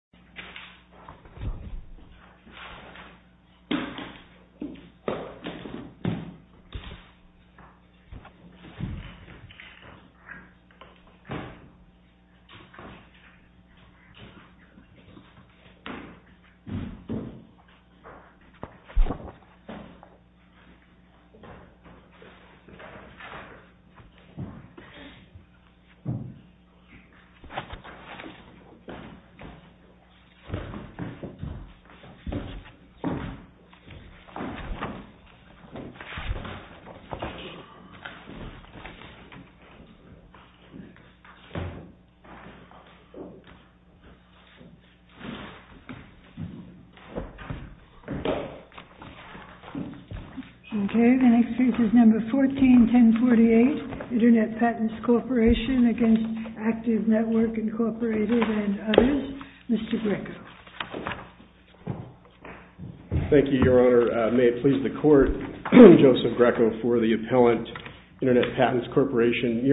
v. Mr. Donohue, MP, Willisford. Internet Patents Corp. v. Active Network, Inc. Joseph Greco, MP, Internet Patents Corporation, Inc. Joseph Greco, MP, Internet Patents Corporation, Inc. Joseph Greco, MP, Internet Patents Corporation, Inc. Joseph Greco, MP, Internet Patents Corporation, Inc. Joseph Greco, MP, Internet Patents Corporation, Inc.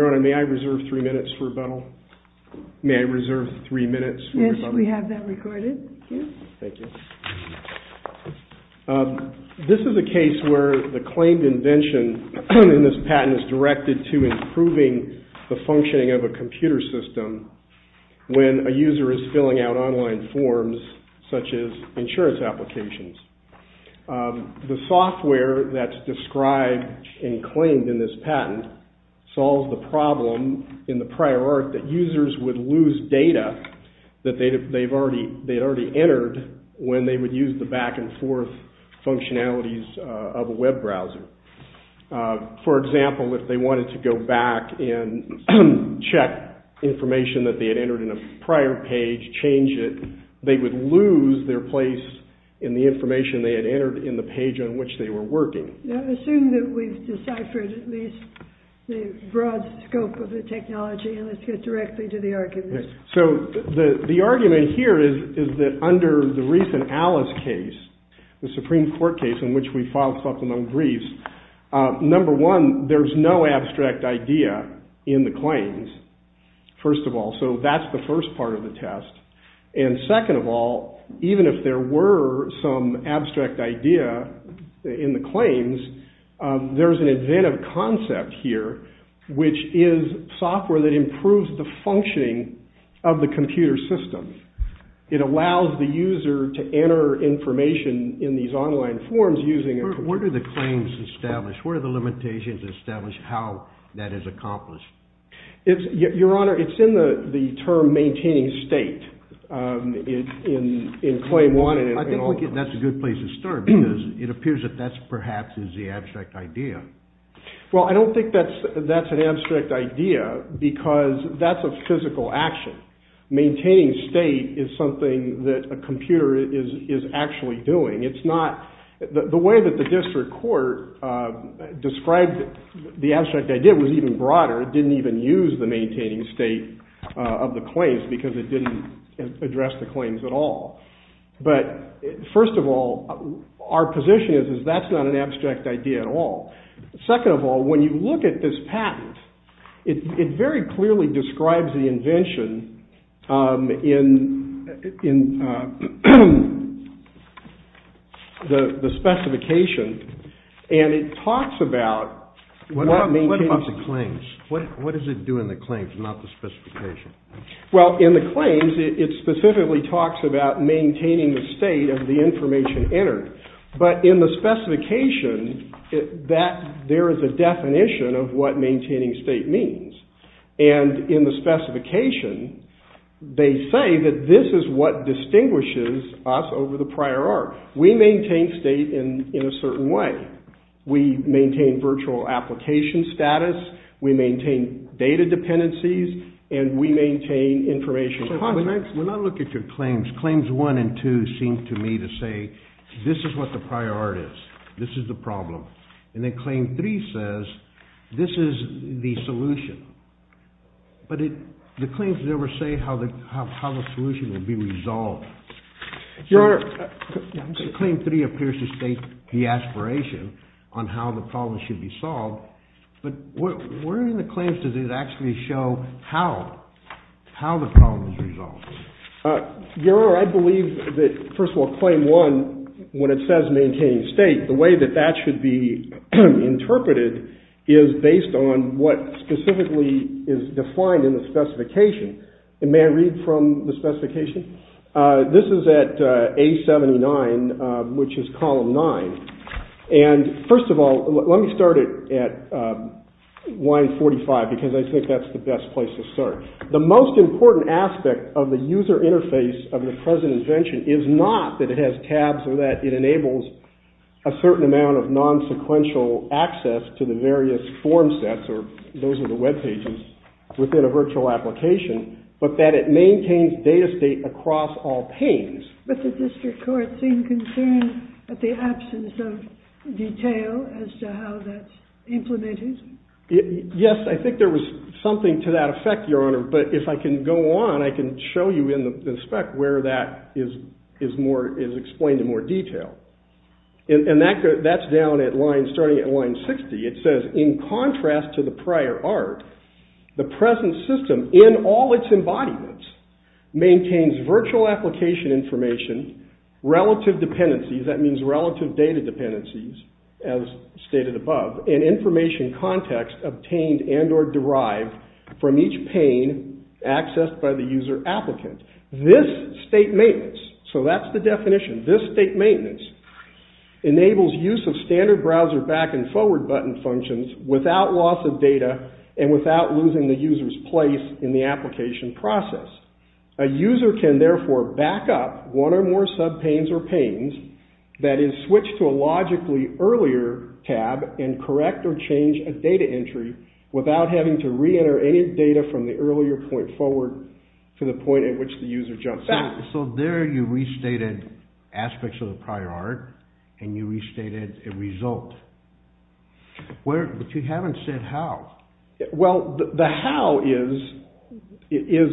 Joseph Greco, MP, Internet Patents Corporation, Inc. Joseph Greco, MP, Internet Patents Corporation, Inc. Joseph Greco, MP, Internet Patents Corporation, Inc. I believe that, first of all, claim one, when it says maintaining state, the way that that should be interpreted is based on what specifically is defined in the specification. And may I read from the specification? This is at A79, which is column 9. And, first of all, let me start at line 45 because I think that's the best place to start. The most important aspect of the user interface of the present invention is not that it has tabs or that it enables a certain amount of non-sequential access to the various form sets, or those are the web pages, within a virtual application, but that it maintains data state across all panes. But the district court seemed concerned at the absence of detail as to how that's implemented. Yes, I think there was something to that effect, Your Honour, but if I can go on, I can show you in the spec where that is explained in more detail. And that's down at line, starting at line 60. It says, in contrast to the prior art, the present system, in all its embodiments, maintains virtual application information, relative dependencies, that means relative data dependencies, as stated above, and information context obtained and or derived from each pane accessed by the user applicant. This state maintenance, so that's the definition, this state maintenance enables use of standard browser back and forward button functions without loss of data and without losing the user's place in the application process. A user can therefore back up one or more sub-panes or panes, that is, switch to a logically earlier tab and correct or change a data entry without having to re-enter any data from the earlier point forward to the point at which the user jumps back. So there you restated aspects of the prior art and you restated a result. But you haven't said how. Well, the how is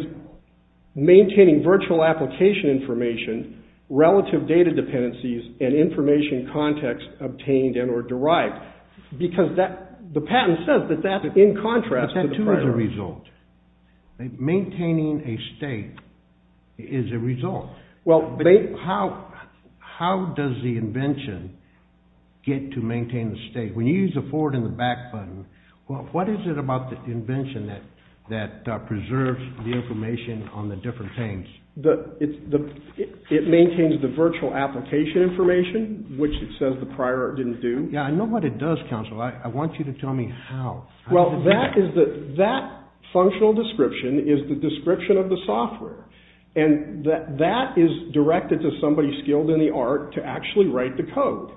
maintaining virtual application information, relative data dependencies, and information context obtained and or derived. Because the patent says that that's in contrast to the prior art. But that too is a result. Maintaining a state is a result. How does the invention get to maintain the state? When you use the forward and the back button, what is it about the invention that preserves the information on the different panes? It maintains the virtual application information, which it says the prior art didn't do. Yeah, I know what it does, counsel. I want you to tell me how. Well, that functional description is the description of the software. And that is directed to somebody skilled in the art to actually write the code.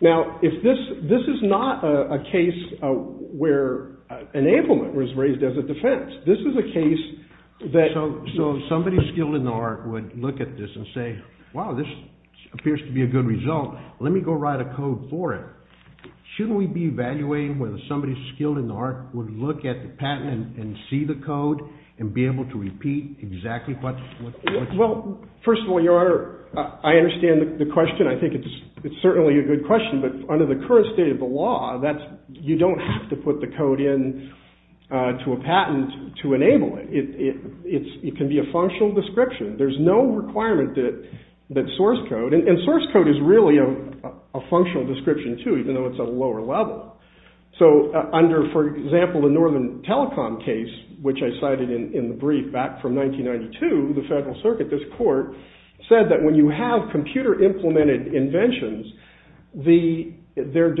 Now, this is not a case where enablement was raised as a defense. This is a case that. So somebody skilled in the art would look at this and say, wow, this appears to be a good result. Let me go write a code for it. Shouldn't we be evaluating whether somebody skilled in the art would look at the patent and see the code and be able to repeat exactly what. Well, first of all, your honor, I understand the question. I think it's certainly a good question. But under the current state of the law, that's you don't have to put the code in to a patent to enable it. It's it can be a functional description. There's no requirement that that source code and source code is really a functional description, too, even though it's a lower level. So under, for example, the Northern Telecom case, which I cited in the brief back from 1992, the Federal Circuit, this court, said that when you have computer implemented inventions, they're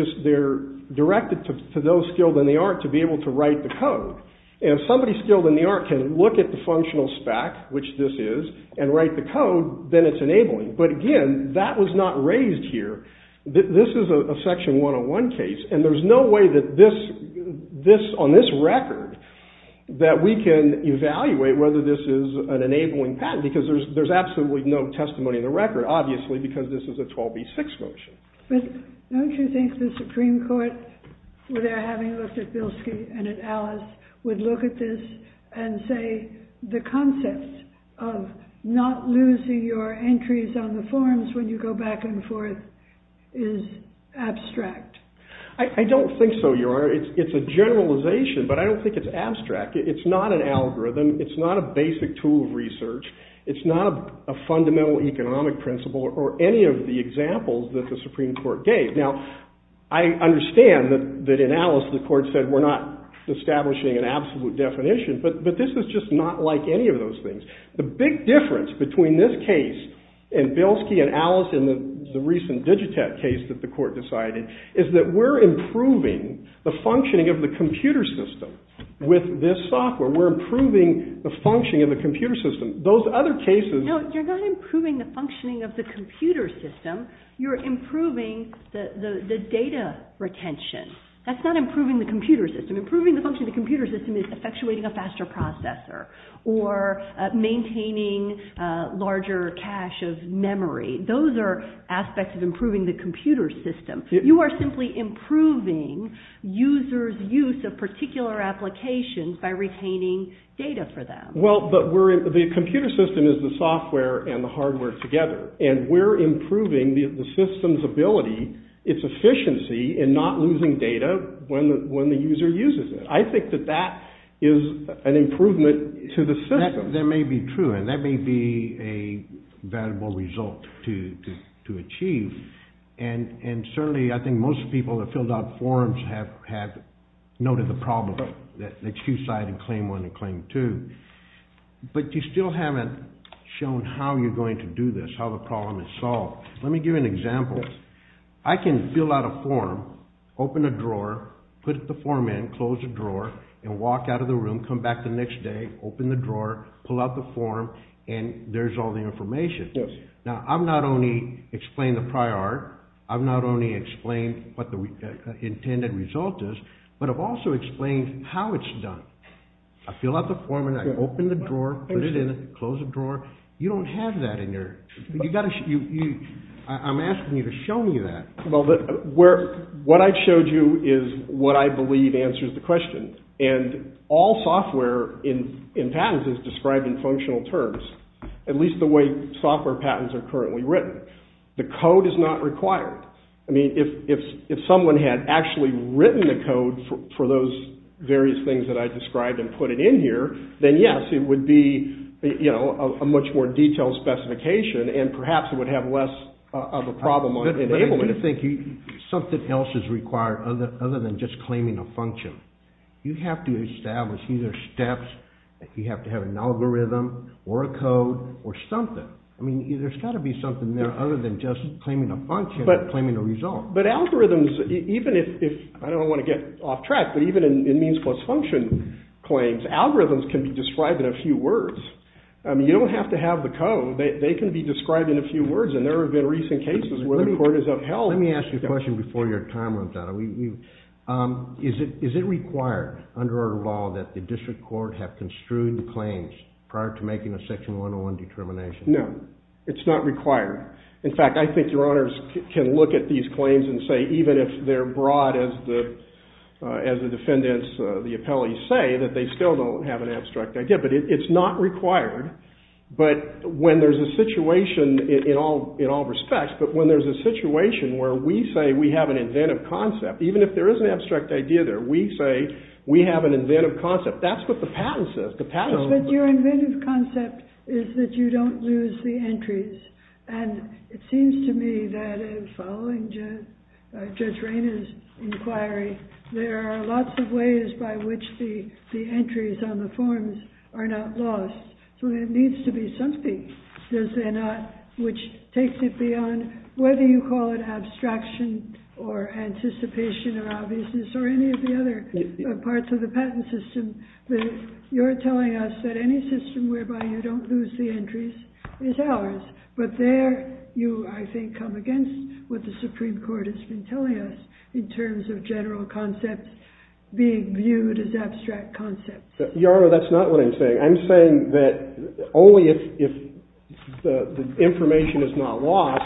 directed to those skilled in the art to be able to write the code. And if somebody skilled in the art can look at the functional spec, which this is, and write the code, then it's enabling. But again, that was not raised here. This is a section 101 case. And there's no way that this, on this record, that we can evaluate whether this is an enabling patent. Because there's absolutely no testimony in the record, obviously, because this is a 12B6 motion. But don't you think the Supreme Court, where they're having a look at Bilski and at Alice, would look at this and say the concept of not losing your entries on the forms when you go back and forth is abstract? I don't think so, Your Honor. It's a generalization. But I don't think it's abstract. It's not an algorithm. It's not a basic tool of research. It's not a fundamental economic principle or any of the examples that the Supreme Court gave. Now, I understand that in Alice the court said we're not establishing an absolute definition. But this is just not like any of those things. The big difference between this case and Bilski and Alice and the recent Digitech case that the court decided is that we're improving the functioning of the computer system with this software. We're improving the functioning of the computer system. Those other cases No, you're not improving the functioning of the computer system. You're improving the data retention. That's not improving the computer system. Improving the functioning of the computer system is effectuating a faster processor or maintaining larger cache of memory. Those are aspects of improving the computer system. You are simply improving users' use of particular applications by retaining data for them. Well, the computer system is the software and the hardware together. And we're improving the system's ability, its efficiency in not losing data when the user uses it. I think that that is an improvement to the system. That may be true. And that may be a valuable result to achieve. And certainly I think most people that filled out forms have noted the problem. They choose side and claim one and claim two. But you still haven't shown how you're going to do this, how the problem is solved. Let me give you an example. I can fill out a form, open a drawer, put the form in, close the drawer, and walk out of the room, come back the next day, open the drawer, pull out the form, and there's all the information. Now, I've not only explained the prior art, I've not only explained what the intended result is, but I've also explained how it's done. I fill out the form and I open the drawer, put it in, close the drawer. You don't have that in your – I'm asking you to show me that. Well, what I've showed you is what I believe answers the question. And all software in patents is described in functional terms. At least the way software patents are currently written. The code is not required. I mean, if someone had actually written the code for those various things that I described and put it in here, then yes, it would be a much more detailed specification and perhaps it would have less of a problem on enablement. But I do think something else is required other than just claiming a function. You have to establish either steps, you have to have an algorithm or a code or something. I mean, there's got to be something there other than just claiming a function or claiming a result. But algorithms, even if – I don't want to get off track, but even in means plus function claims, algorithms can be described in a few words. I mean, you don't have to have the code. They can be described in a few words and there have been recent cases where the court has upheld – Let me ask you a question before your time runs out. Is it required under our law that the district court have construed claims prior to making a section 101 determination? No, it's not required. In fact, I think your honors can look at these claims and say even if they're broad as the defendants, the appellees say, that they still don't have an abstract idea. But it's not required, but when there's a situation in all respects, but when there's a situation where we say we have an inventive concept, even if there is an abstract idea there, we say we have an inventive concept. That's what the patent says. But your inventive concept is that you don't lose the entries. And it seems to me that following Judge Rainer's inquiry, there are lots of ways by which the entries on the forms are not lost. So there needs to be something, does there not, which takes it beyond whether you call it abstraction or anticipation or obviousness or any of the other parts of the patent system. You're telling us that any system whereby you don't lose the entries is ours. But there you, I think, come against what the Supreme Court has been telling us in terms of general concepts being viewed as abstract concepts. Your Honor, that's not what I'm saying. I'm saying that only if the information is not lost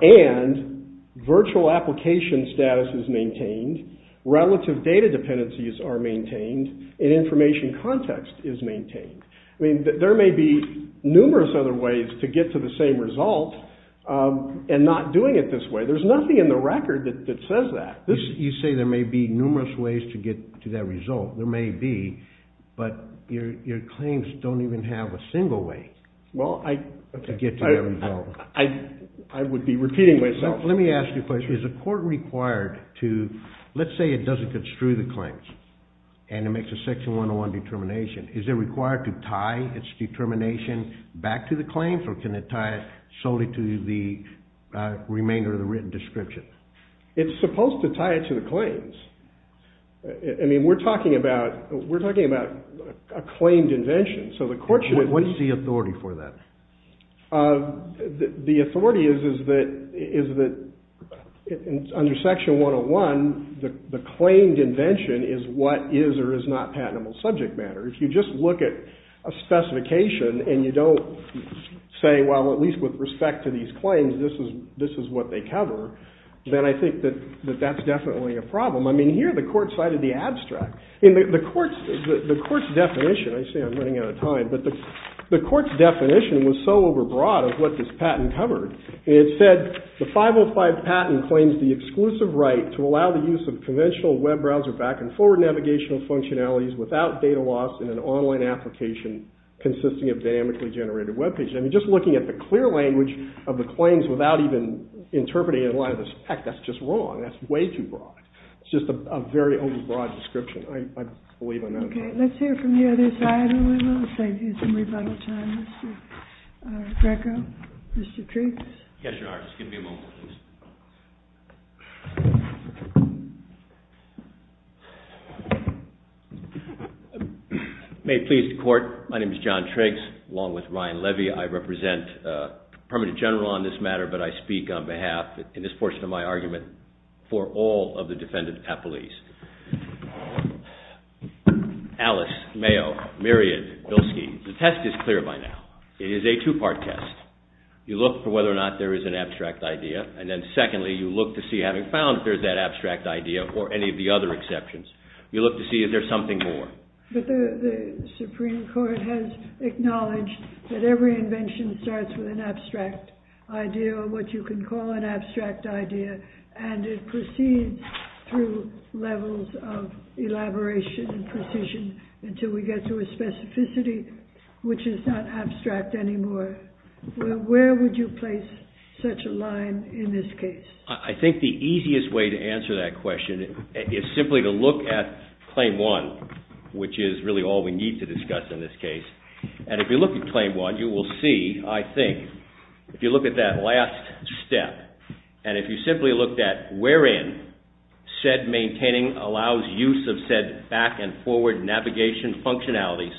and virtual application status is maintained, relative data dependencies are maintained, and information context is maintained. I mean, there may be numerous other ways to get to the same result and not doing it this way. There's nothing in the record that says that. You say there may be numerous ways to get to that result. There may be, but your claims don't even have a single way to get to that result. I would be repeating myself. Let me ask you a question. Is a court required to, let's say it doesn't construe the claims and it makes a Section 101 determination, is it required to tie its determination back to the claims or can it tie it solely to the remainder of the written description? I mean, we're talking about a claimed invention. So the court should… What is the authority for that? The authority is that under Section 101, the claimed invention is what is or is not patentable subject matter. If you just look at a specification and you don't say, well, at least with respect to these claims, this is what they cover, then I think that that's definitely a problem. I mean, here the court cited the abstract. The court's definition… I say I'm running out of time, but the court's definition was so overbroad of what this patent covered. It said, the 505 patent claims the exclusive right to allow the use of conventional web browser back and forward navigational functionalities without data loss in an online application consisting of dynamically generated web pages. I mean, just looking at the clear language of the claims without even interpreting it in light of the spec, that's just wrong. That's way too broad. It's just a very overbroad description. I believe I'm out of time. Okay, let's hear from the other side a little. I think we need some rebuttal time. Mr. Greco? Mr. Triggs? Yes, Your Honor. Just give me a moment, please. May it please the court, my name is John Triggs, along with Ryan Levy. I represent the Permanent General on this matter, but I speak on behalf, in this portion of my argument, for all of the defendants at police. Alice, Mayo, Myriad, Bilski, the test is clear by now. It is a two-part test. You look for whether or not there is an abstract idea, and then secondly, you look to see, having found that there's that abstract idea, or any of the other exceptions, you look to see if there's something more. But the Supreme Court has acknowledged that every invention starts with an abstract idea, or what you can call an abstract idea, and it proceeds through levels of elaboration and precision until we get to a specificity which is not abstract anymore. Where would you place such a line in this case? I think the easiest way to answer that question is simply to look at Claim 1, which is really all we need to discuss in this case. And if you look at Claim 1, you will see, I think, if you look at that last step, and if you simply look at wherein said maintaining allows use of said back-and-forward navigation functionalities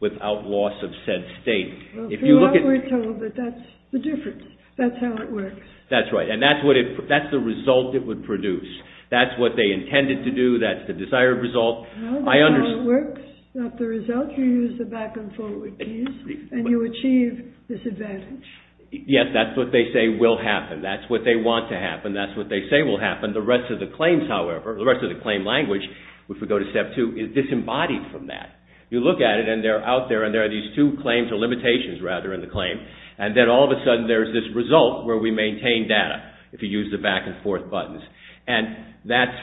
without loss of said state. Well, from what we're told, that's the difference. That's how it works. That's right. And that's the result it would produce. That's what they intended to do. That's the desired result. I understand. That's how it works. Not the result. You use the back-and-forward piece, and you achieve disadvantage. Yes, that's what they say will happen. That's what they want to happen. That's what they say will happen. The rest of the claims, however, the rest of the claim language, if we go to Step 2, is disembodied from that. You look at it, and they're out there, and there are these two claims or limitations, rather, in the claim. And then all of a sudden, there's this result where we maintain data if you use the back-and-forth buttons. And that's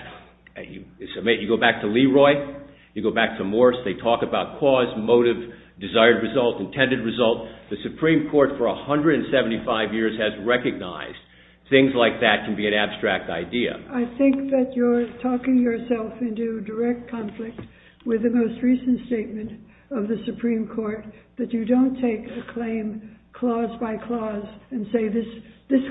– you go back to Leroy. You go back to Morse. They talk about cause, motive, desired result, intended result. The Supreme Court for 175 years has recognized things like that can be an abstract idea. I think that you're talking yourself into direct conflict with the most recent statement of the Supreme Court that you don't take a claim clause by clause and say this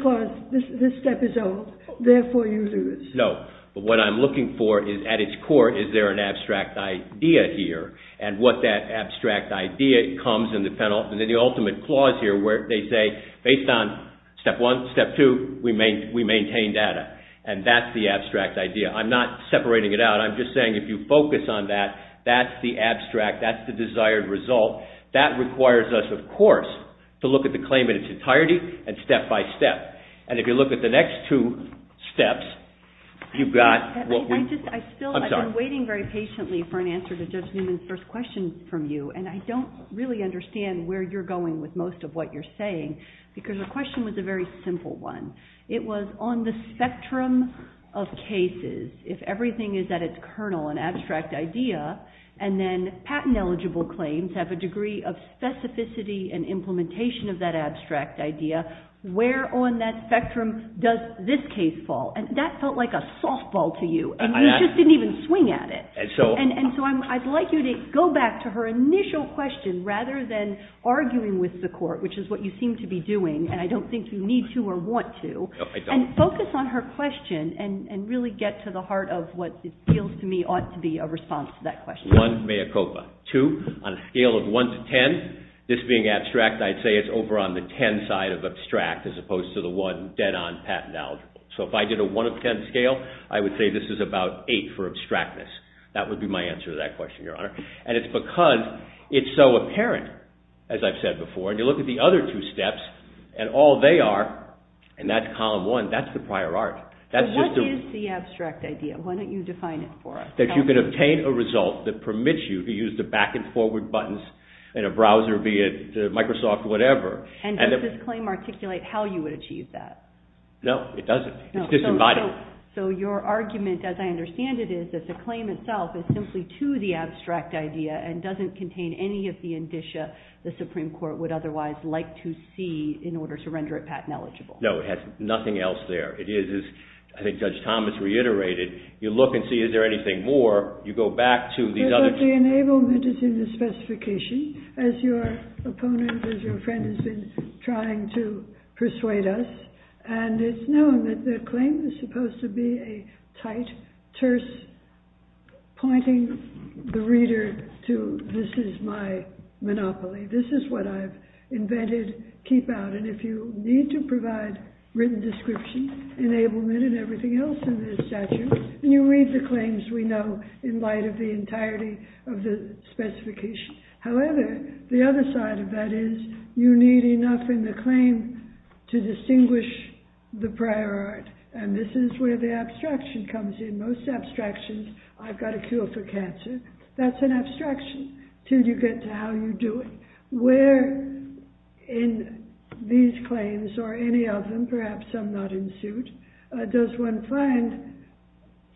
clause, this step is old. Therefore, you lose. No. But what I'm looking for is, at its core, is there an abstract idea here? And what that abstract idea comes in the penultimate clause here where they say, based on Step 1, Step 2, we maintain data. And that's the abstract idea. I'm not separating it out. I'm just saying if you focus on that, that's the abstract. That's the desired result. That requires us, of course, to look at the claim in its entirety and step by step. And if you look at the next two steps, you've got what we – I just – I still – I'm sorry. I've been waiting very patiently for an answer to Judge Newman's first question from you, and I don't really understand where you're going with most of what you're saying because the question was a very simple one. It was on the spectrum of cases, if everything is at its kernel, an abstract idea, and then patent-eligible claims have a degree of specificity and implementation of that abstract idea, where on that spectrum does this case fall? And that felt like a softball to you, and you just didn't even swing at it. And so I'd like you to go back to her initial question rather than arguing with the court, which is what you seem to be doing, and I don't think you need to or want to. No, I don't. And focus on her question and really get to the heart of what it feels to me ought to be a response to that question. One, mea culpa. Two, on a scale of one to ten, this being abstract, I'd say it's over on the ten side of abstract as opposed to the one dead-on patent-eligible. So if I did a one of ten scale, I would say this is about eight for abstractness. That would be my answer to that question, Your Honor. And it's because it's so apparent, as I've said before, and you look at the other two steps, and all they are in that column one, that's the prior art. So what is the abstract idea? Why don't you define it for us? That you can obtain a result that permits you to use the back and forward buttons in a browser, be it Microsoft, whatever. And does this claim articulate how you would achieve that? No, it doesn't. It's disinvited. So your argument, as I understand it, is that the claim itself is simply to the abstract idea and doesn't contain any of the indicia the Supreme Court would otherwise like to see in order to render it patent-eligible. No, it has nothing else there. It is, as I think Judge Thomas reiterated, you look and see is there anything more. You go back to these other two. But the enablement is in the specification, as your opponent, as your friend has been trying to persuade us. And it's known that the claim is supposed to be a tight terse pointing the reader to this is my monopoly. This is what I've invented. Keep out. And if you need to provide written description, enablement, and everything else in this statute, then you read the claims we know in light of the entirety of the specification. However, the other side of that is you need enough in the claim to distinguish the prior art. And this is where the abstraction comes in. Most abstractions, I've got a cure for cancer. That's an abstraction until you get to how you do it. Where in these claims, or any of them, perhaps some not in suit, does one find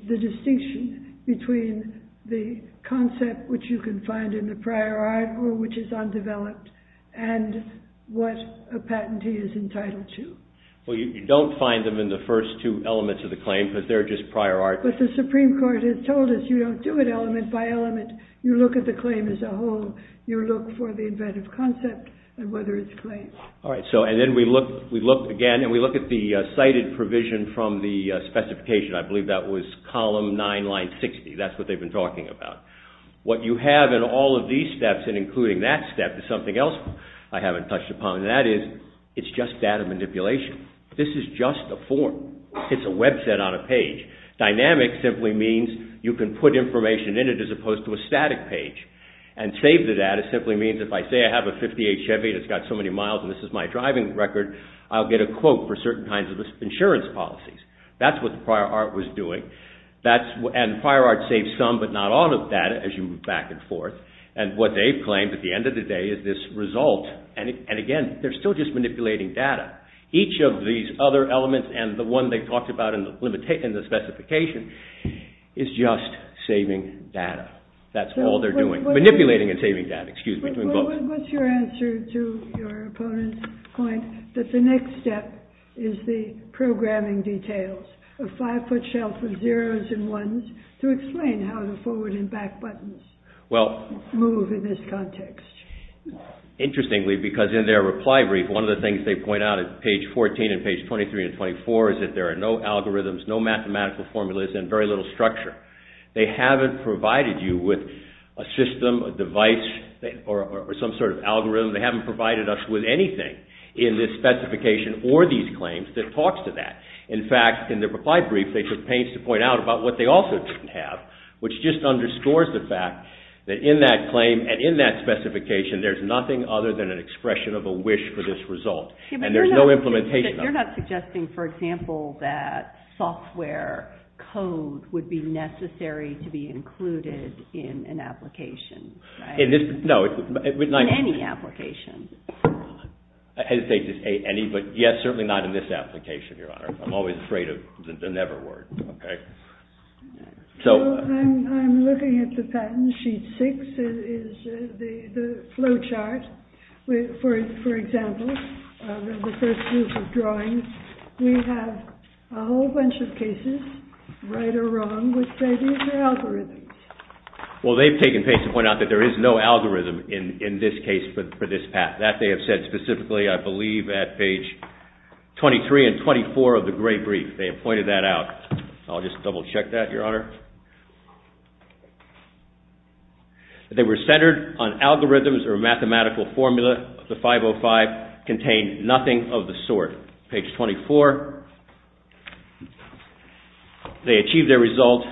the distinction between the concept, which you can find in the prior art, or which is undeveloped, and what a patentee is entitled to. Well, you don't find them in the first two elements of the claim because they're just prior art. But the Supreme Court has told us you don't do it element by element. You look at the claim as a whole. You look for the inventive concept and whether it's claimed. And then we look again, and we look at the cited provision from the specification. I believe that was column 9, line 60. That's what they've been talking about. What you have in all of these steps, and including that step, is something else I haven't touched upon. And that is, it's just data manipulation. This is just a form. It's a website on a page. Dynamic simply means you can put information in it as opposed to a static page. And save the data simply means if I say I have a 58 Chevy that's got so many miles and this is my driving record, I'll get a quote for certain kinds of insurance policies. That's what the prior art was doing. And prior art saves some, but not all, of data as you move back and forth. And what they've claimed at the end of the day is this result. And again, they're still just manipulating data. Each of these other elements and the one they've talked about in the specification is just saving data. That's all they're doing. Manipulating and saving data, excuse me. What's your answer to your opponent's point that the next step is the programming details, a five-foot shelf of zeros and ones to explain how the forward and back buttons move in this context? Interestingly, because in their reply brief, one of the things they point out at page 14 and page 23 and 24 is that there are no algorithms, no mathematical formulas, and very little structure. They haven't provided you with a system, a device, or some sort of algorithm. They haven't provided us with anything in this specification or these claims that talks to that. In fact, in their reply brief, they took pains to point out about what they also didn't have, which just underscores the fact that in that claim and in that specification, there's nothing other than an expression of a wish for this result. And there's no implementation of it. It would be necessary to be included in an application. In any application. I hesitate to say any, but yes, certainly not in this application, Your Honor. I'm always afraid of the never word. I'm looking at the patent sheet six. It is the flowchart. For example, in the first group of drawings, we have a whole bunch of cases, right or wrong, which say these are algorithms. Well, they've taken pains to point out that there is no algorithm in this case for this path. That they have said specifically, I believe, at page 23 and 24 of the great brief. They have pointed that out. I'll just double check that, Your Honor. They were centered on algorithms or mathematical formula. The 505 contained nothing of the sort. Page 24. They achieved their result.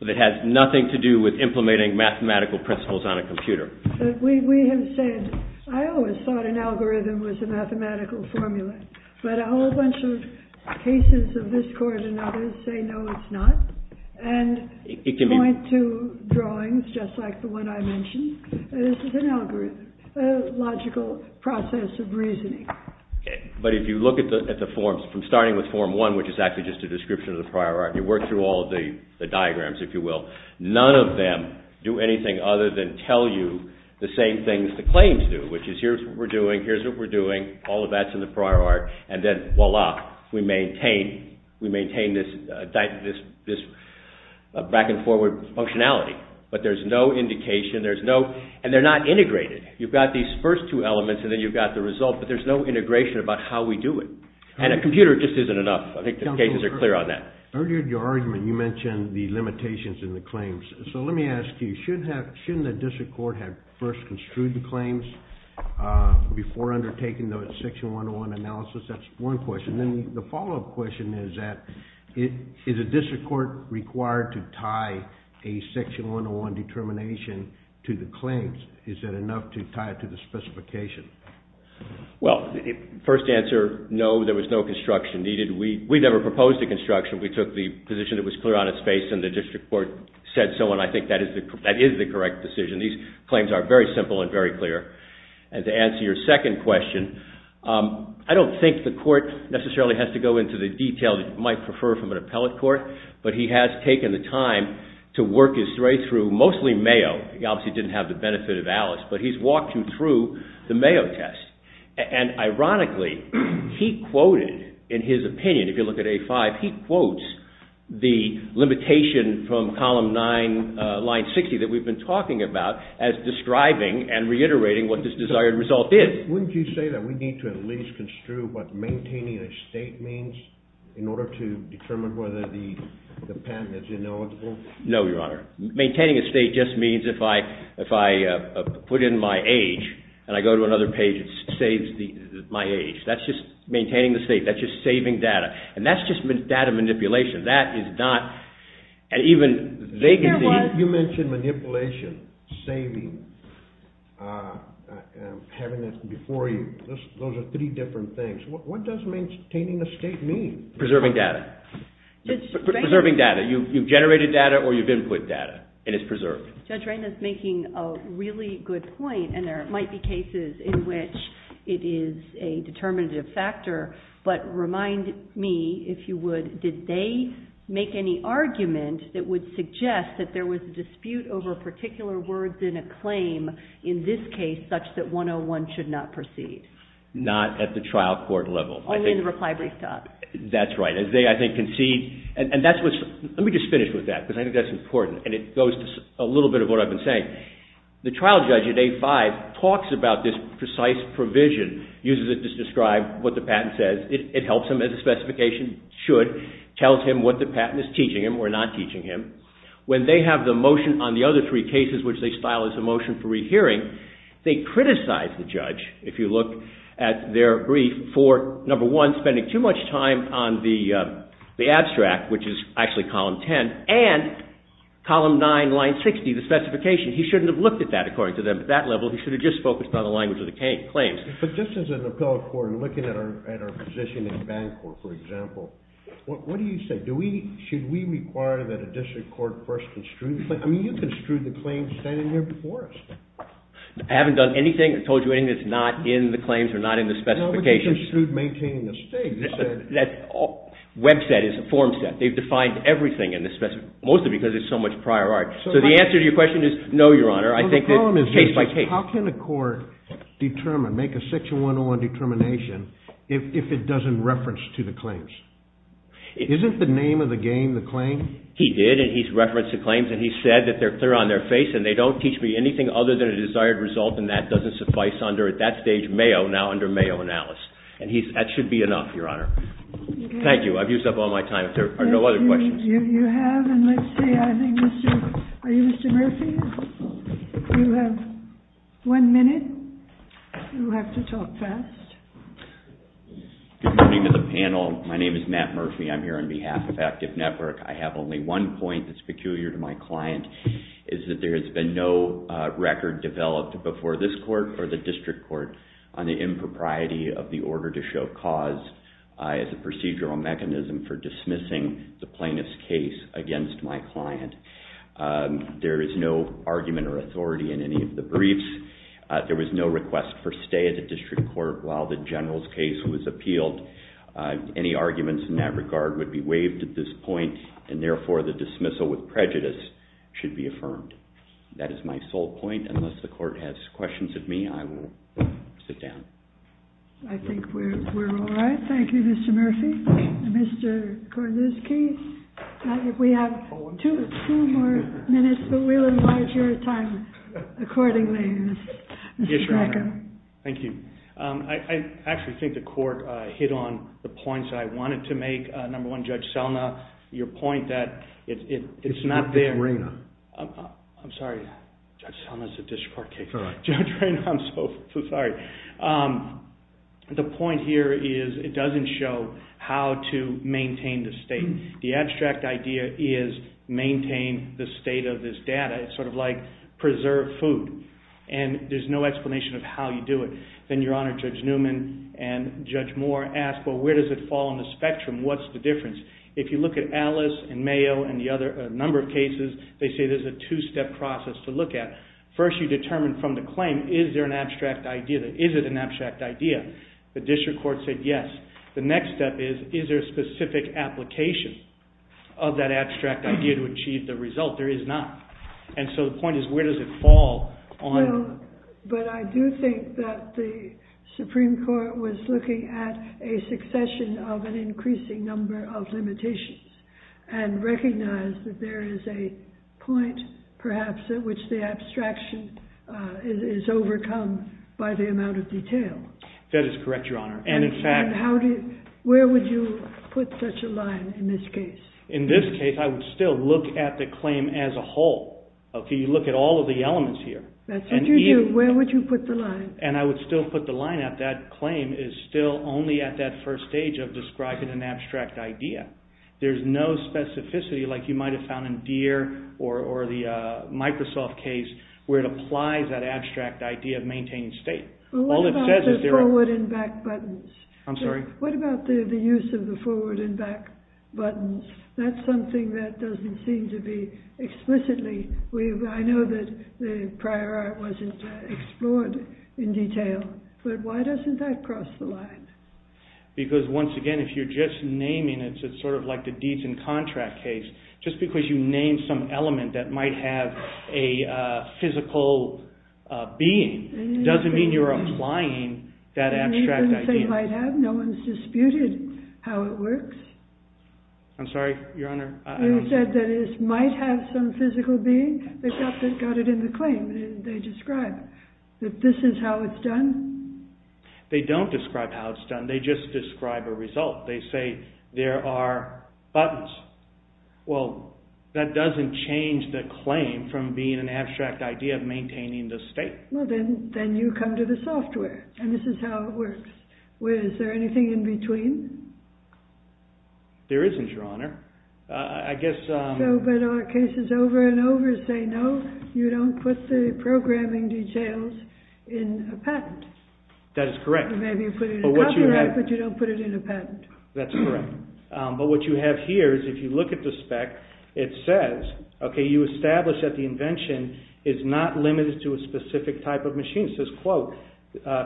But it has nothing to do with implementing mathematical principles on a computer. We have said, I always thought an algorithm was a mathematical formula. But a whole bunch of cases of this court and others say, no, it's not. And point to drawings just like the one I mentioned. This is an algorithm, a logical process of reasoning. But if you look at the forms, from starting with form one, which is actually just a description of the prior art, you work through all of the diagrams, if you will, none of them do anything other than tell you the same things the claims do, which is here's what we're doing, here's what we're doing, all of that's in the prior art, and then voila, we maintain this back and forward functionality. But there's no indication, and they're not integrated. You've got these first two elements and then you've got the result, but there's no integration about how we do it. And a computer just isn't enough. I think the cases are clear on that. Earlier in your argument, you mentioned the limitations in the claims. So let me ask you, shouldn't the district court have first construed the claims before undertaking the Section 101 analysis? That's one question. Then the follow-up question is that, is a district court required to tie a Section 101 determination to the claims? Is that enough to tie it to the specification? Well, first answer, no, there was no construction needed. We never proposed a construction. We took the position it was clear on its face and the district court said so, and I think that is the correct decision. These claims are very simple and very clear. And to answer your second question, I don't think the court necessarily has to go into the detail that you might prefer from an appellate court, but he has taken the time to work his way through mostly Mayo. He obviously didn't have the benefit of Alice, but he's walked him through the Mayo test. And ironically, he quoted in his opinion, if you look at A5, he quotes the limitation from Column 9, Line 60 that we've been talking about as describing and reiterating what this desired result is. Wouldn't you say that we need to at least construe what maintaining a state means in order to determine whether the patent is ineligible? No, Your Honor. Maintaining a state just means if I put in my age and I go to another page, it saves my age. That's just maintaining the state. That's just saving data. And that's just data manipulation. That is not, and even they can see. You mentioned manipulation, saving, having it before you. Those are three different things. What does maintaining a state mean? Preserving data. Preserving data. You've generated data or you've input data, and it's preserved. Judge Reina is making a really good point, and there might be cases in which it is a determinative factor, but remind me, if you would, did they make any argument that would suggest that there was a dispute over particular words in a claim, in this case, such that 101 should not proceed? Not at the trial court level. Only in the reply brief talk. That's right. They, I think, concede, and that's what's, let me just finish with that because I think that's important, and it goes to a little bit of what I've been saying. The trial judge at A5 talks about this precise provision, uses it to describe what the patent says. It helps him as a specification. It should tell him what the patent is teaching him or not teaching him. When they have the motion on the other three cases, which they style as a motion for rehearing, they criticize the judge, if you look at their brief, for, number one, spending too much time on the abstract, which is actually column 10, and column 9, line 60, the specification. He shouldn't have looked at that, according to them, at that level. He should have just focused on the language of the claims. But just as an appellate court, looking at our position in the bank court, for example, what do you say? Should we require that a district court first construe? I mean, you construed the claims standing there before us. I haven't done anything. I've told you anything that's not in the claims or not in the specifications. No, but you construed maintaining the state. That web set is a form set. They've defined everything in this, mostly because it's so much prior art. So the answer to your question is no, Your Honor. I think that case by case. How can a court determine, make a section 101 determination, if it doesn't reference to the claims? Isn't the name of the game the claim? He did. And he's referenced the claims. And he said that they're clear on their face. And they don't teach me anything other than a desired result. And that doesn't suffice under, at that stage, Mayo, now under Mayo and Alice. And that should be enough, Your Honor. Thank you. I've used up all my time. If there are no other questions. You have. And let's see. I think Mr. Are you Mr. Murphy? You have one minute. You have to talk first. Good morning to the panel. My name is Matt Murphy. I'm here on behalf of Active Network. I have only one point that's peculiar to my client, is that there has been no record developed before this court or the district court on the impropriety of the order to show cause as a procedural mechanism for dismissing the plaintiff's case against my client. There is no argument or authority in any of the briefs. There was no request for stay at the district court while the general's case was appealed. Any arguments in that regard would be waived at this point. And therefore, the dismissal with prejudice should be affirmed. That is my sole point. Unless the court has questions of me, I will sit down. I think we're all right. Thank you, Mr. Murphy. Mr. Korniski. We have two more minutes, but we'll enlarge your time accordingly. Yes, Your Honor. Thank you. I actually think the court hit on the points I wanted to make. Number one, Judge Selna, your point that it's not there. It's Judge Reyna. I'm sorry. Judge Selna's a district court case. It's all right. Judge Reyna, I'm so sorry. The point here is it doesn't show how to maintain the state. The abstract idea is maintain the state of this data. It's sort of like preserve food. And there's no explanation of how you do it. Then, Your Honor, Judge Newman and Judge Moore asked, well, where does it fall on the spectrum? What's the difference? If you look at Alice and Mayo and a number of cases, they say there's a two-step process to look at. First, you determine from the claim, is there an abstract idea? Is it an abstract idea? The district court said yes. The next step is, is there a specific application of that abstract idea to achieve the result? There is not. And so the point is, where does it fall on? But I do think that the Supreme Court was looking at a succession of an increasing number of limitations and recognized that there is a point, perhaps, at which the abstraction is overcome by the amount of detail. That is correct, Your Honor. Where would you put such a line in this case? In this case, I would still look at the claim as a whole. You look at all of the elements here. That's what you do. Where would you put the line? And I would still put the line at that claim is still only at that first stage of describing an abstract idea. There's no specificity like you might have found in Deere or the Microsoft case where it applies that abstract idea of maintaining state. What about the forward and back buttons? I'm sorry? What about the use of the forward and back buttons? That's something that doesn't seem to be explicitly... I know that the prior art wasn't explored in detail, but why doesn't that cross the line? Because, once again, if you're just naming it, it's sort of like the deeds in contract case. Just because you name some element that might have a physical being doesn't mean you're applying that abstract idea. It doesn't say might have. No one's disputed how it works. I'm sorry, Your Honor, I don't understand. You said that it might have some physical being. They got it in the claim. They describe that this is how it's done. They don't describe how it's done. They just describe a result. They say there are buttons. Well, that doesn't change the claim from being an abstract idea of maintaining the state. Well, then you come to the software, and this is how it works. Is there anything in between? There isn't, Your Honor. But our cases over and over say, no, you don't put the programming details in a patent. That is correct. Maybe you put it in copyright, but you don't put it in a patent. That's correct. But what you have here is, if you look at the spec, it says you establish that the invention is not limited to a specific type of machine. It says, quote,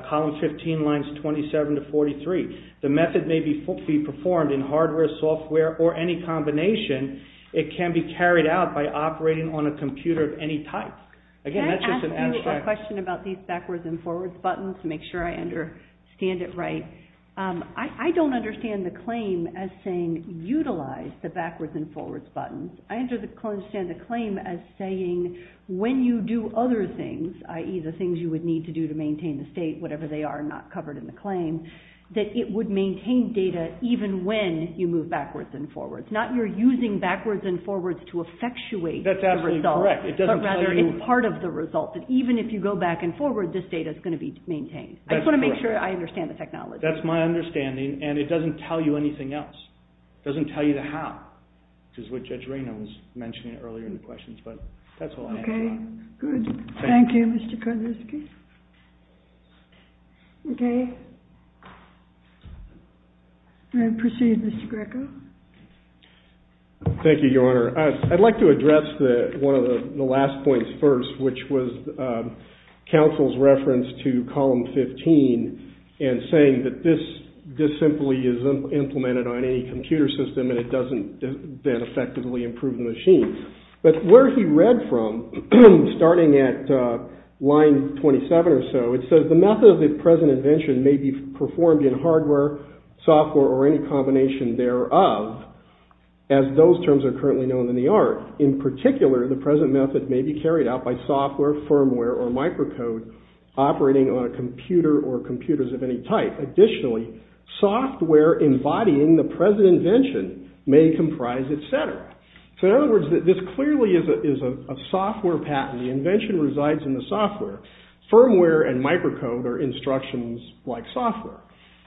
column 15, lines 27 to 43. The method may be performed in hardware, software, or any combination. It can be carried out by operating on a computer of any type. Can I ask you a question about these backwards and forwards buttons to make sure I understand it right? I don't understand the claim as saying, utilize the backwards and forwards buttons. I understand the claim as saying, when you do other things, i.e., the things you would need to do to maintain the state, whatever they are not covered in the claim, that it would maintain data even when you move backwards and forwards. Not you're using backwards and forwards to effectuate the result, but rather it's part of the result. Even if you go back and forward, this data is going to be maintained. I just want to make sure I understand the technology. That's my understanding, and it doesn't tell you anything else. It doesn't tell you the how, which is what Judge Raynaud was mentioning earlier in the questions, but that's all I have for now. Okay, good. Thank you, Mr. Kudliski. Okay. I'll proceed, Mr. Greco. Thank you, Your Honor. I'd like to address one of the last points first, which was counsel's reference to column 15 and saying that this simply is implemented on any computer system, and it doesn't then effectively improve the machine. But where he read from, starting at line 27 or so, it says the method of the present invention may be performed in hardware, software, or any combination thereof, as those terms are currently known in the art. In particular, the present method may be carried out by software, firmware, or microcode operating on a computer or computers of any type. Additionally, software embodying the present invention may comprise its center. So in other words, this clearly is a software patent. The invention resides in the software. Firmware and microcode are instructions like software.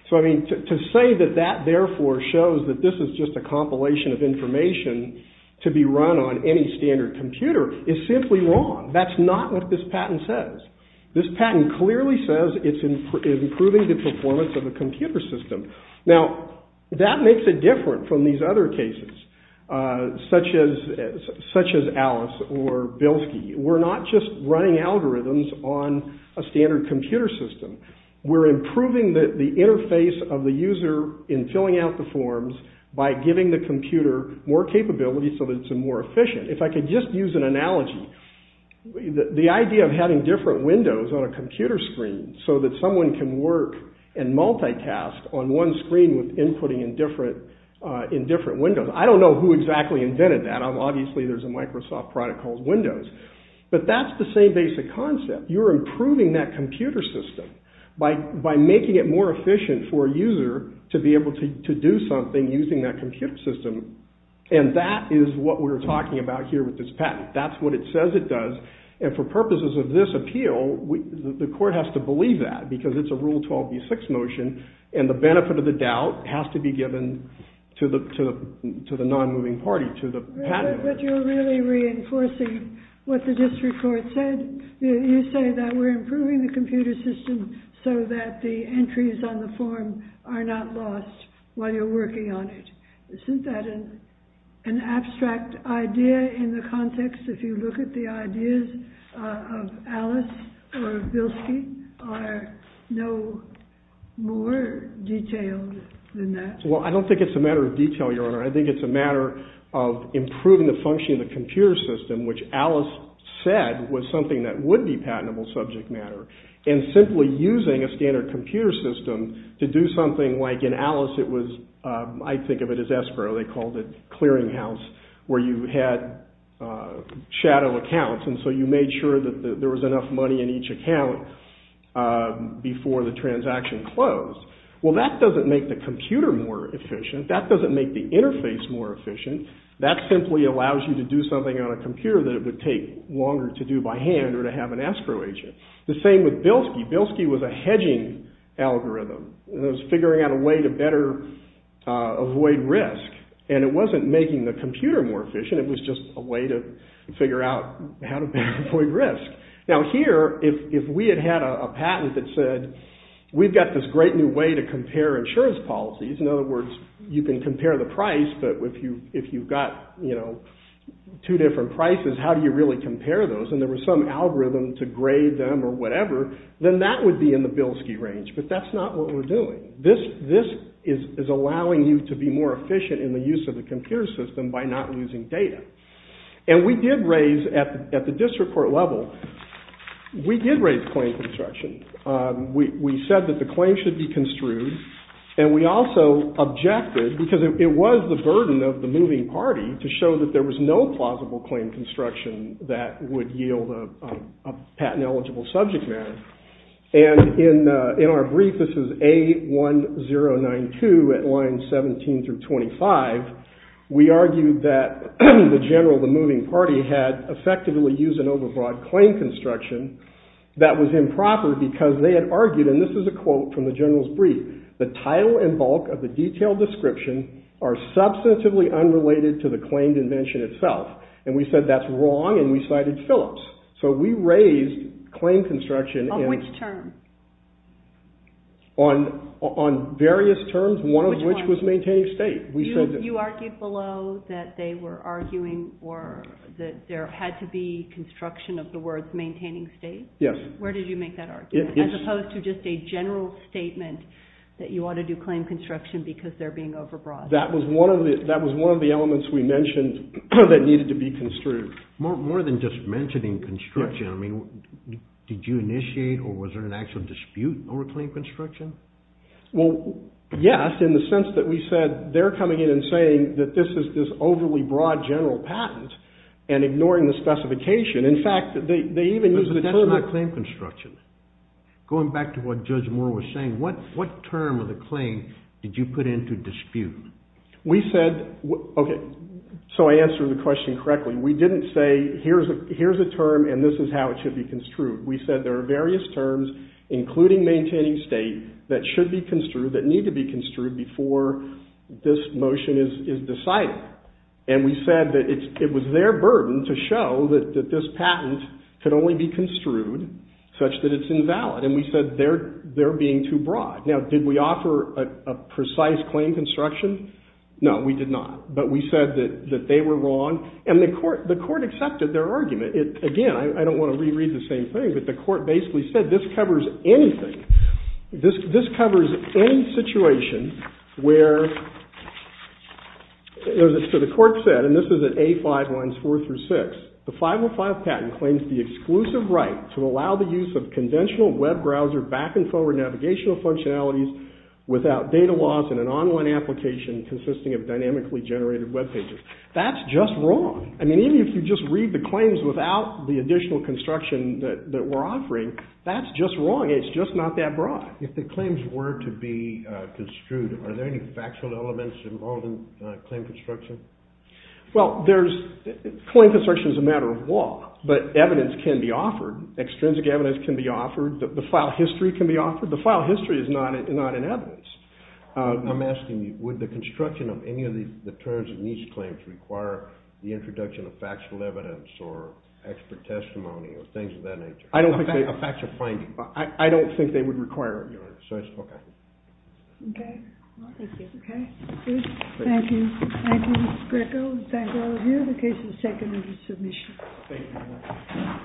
So I mean, to say that that therefore shows that this is just a compilation of information to be run on any standard computer is simply wrong. That's not what this patent says. This patent clearly says it's improving the performance of a computer system. Now, that makes it different from these other cases, such as Alice or Bilski. We're not just running algorithms on a standard computer system. We're improving the interface of the user in filling out the forms by giving the computer more capability so that it's more efficient. If I could just use an analogy, the idea of having different windows on a computer screen so that someone can work and multitask on one screen with inputting in different windows. I don't know who exactly invented that. Obviously, there's a Microsoft product called Windows. But that's the same basic concept. You're improving that computer system by making it more efficient for a user to be able to do something using that computer system. And that is what we're talking about here with this patent. That's what it says it does. And for purposes of this appeal, the court has to believe that. Because it's a Rule 12b6 motion. And the benefit of the doubt has to be given to the non-moving party, to the patent. But you're really reinforcing what the district court said. You say that we're improving the computer system so that the entries on the form are not lost while you're working on it. Isn't that an abstract idea in the context? If you look at the ideas of Alice or Bilski, are no more detailed than that? Well, I don't think it's a matter of detail, Your Honor. I think it's a matter of improving the function of the computer system, which Alice said was something that would be patentable subject matter. And simply using a standard computer system to do something like, in Alice, it was, I think of it as Espero. They called it Clearinghouse, where you had shadow accounts. And so you made sure that there was enough money in each account before the transaction closed. Well, that doesn't make the computer more efficient. That doesn't make the interface more efficient. That simply allows you to do something on a computer that it would take longer to do by hand or to have an Espero agent. The same with Bilski. Bilski was a hedging algorithm. It was figuring out a way to better avoid risk. And it wasn't making the computer more efficient. It was just a way to figure out how to better avoid risk. Now here, if we had had a patent that said, we've got this great new way to compare insurance policies. In other words, you can compare the price. But if you've got two different prices, how do you really compare those? And there was some algorithm to grade them or whatever, then that would be in the Bilski range. But that's not what we're doing. This is allowing you to be more efficient in the use of the computer system by not using data. And we did raise, at the district court level, we did raise claim construction. We said that the claim should be construed. And we also objected, because it was the burden of the moving party, to show that there was no plausible claim construction that would yield a patent-eligible subject matter. And in our brief, this is A1092 at lines 17 through 25, we argued that the general of the moving party had effectively used an overbroad claim construction that was improper because they had argued, and this is a quote from the general's brief, the title and bulk of the detailed description are substantively unrelated to the claim dimension itself. And we said that's wrong. And we cited Phillips. So we raised claim construction on various terms, one of which was maintaining state. You argued below that they were arguing or that there had to be construction of the words maintaining state? Yes. Where did you make that argument, as opposed to just a general statement that you ought to do claim construction because they're being overbroad? That was one of the elements we mentioned that needed to be construed. More than just mentioning construction, I mean, did you initiate or was there an actual dispute over claim construction? Well, yes, in the sense that we said they're coming in and saying that this is this overly broad general patent and ignoring the specification. In fact, they even used the term that- But that's not claim construction. Going back to what Judge Moore was saying, what term of the claim did you put into dispute? We said, OK, so I answered the question correctly. We didn't say, here's a term and this is how it should be construed. We said there are various terms, including maintaining state, that should be construed, that need to be construed before this motion is decided. And we said that it was their burden to show that this patent could only be construed such that it's invalid. And we said they're being too broad. Now, did we offer a precise claim construction? No, we did not. But we said that they were wrong. And the court accepted their argument. Again, I don't want to reread the same thing, but the court basically said this covers anything. This covers any situation where the court said, and this is at A5 lines 4 through 6, the 505 patent claims the exclusive right to allow the use of conventional web browser back and forward navigational functionalities without data loss in an online application consisting of dynamically generated web pages. That's just wrong. I mean, even if you just read the claims without the additional construction that we're offering, that's just wrong. It's just not that broad. If the claims were to be construed, are there any factual elements involved in claim construction? Well, claim construction is a matter of law. But evidence can be offered. Extrinsic evidence can be offered. The file history can be offered. The file history is not in evidence. I'm asking you, would the construction of any of the terms in these claims require the introduction of factual evidence or expert testimony or things of that nature? I don't think they would. A factual finding. I don't think they would require it, Your Honor. So it's OK. OK. Well, thank you. OK. Thank you. Thank you, Mr. Greco. We thank all of you. The case is taken under submission. Thank you very much.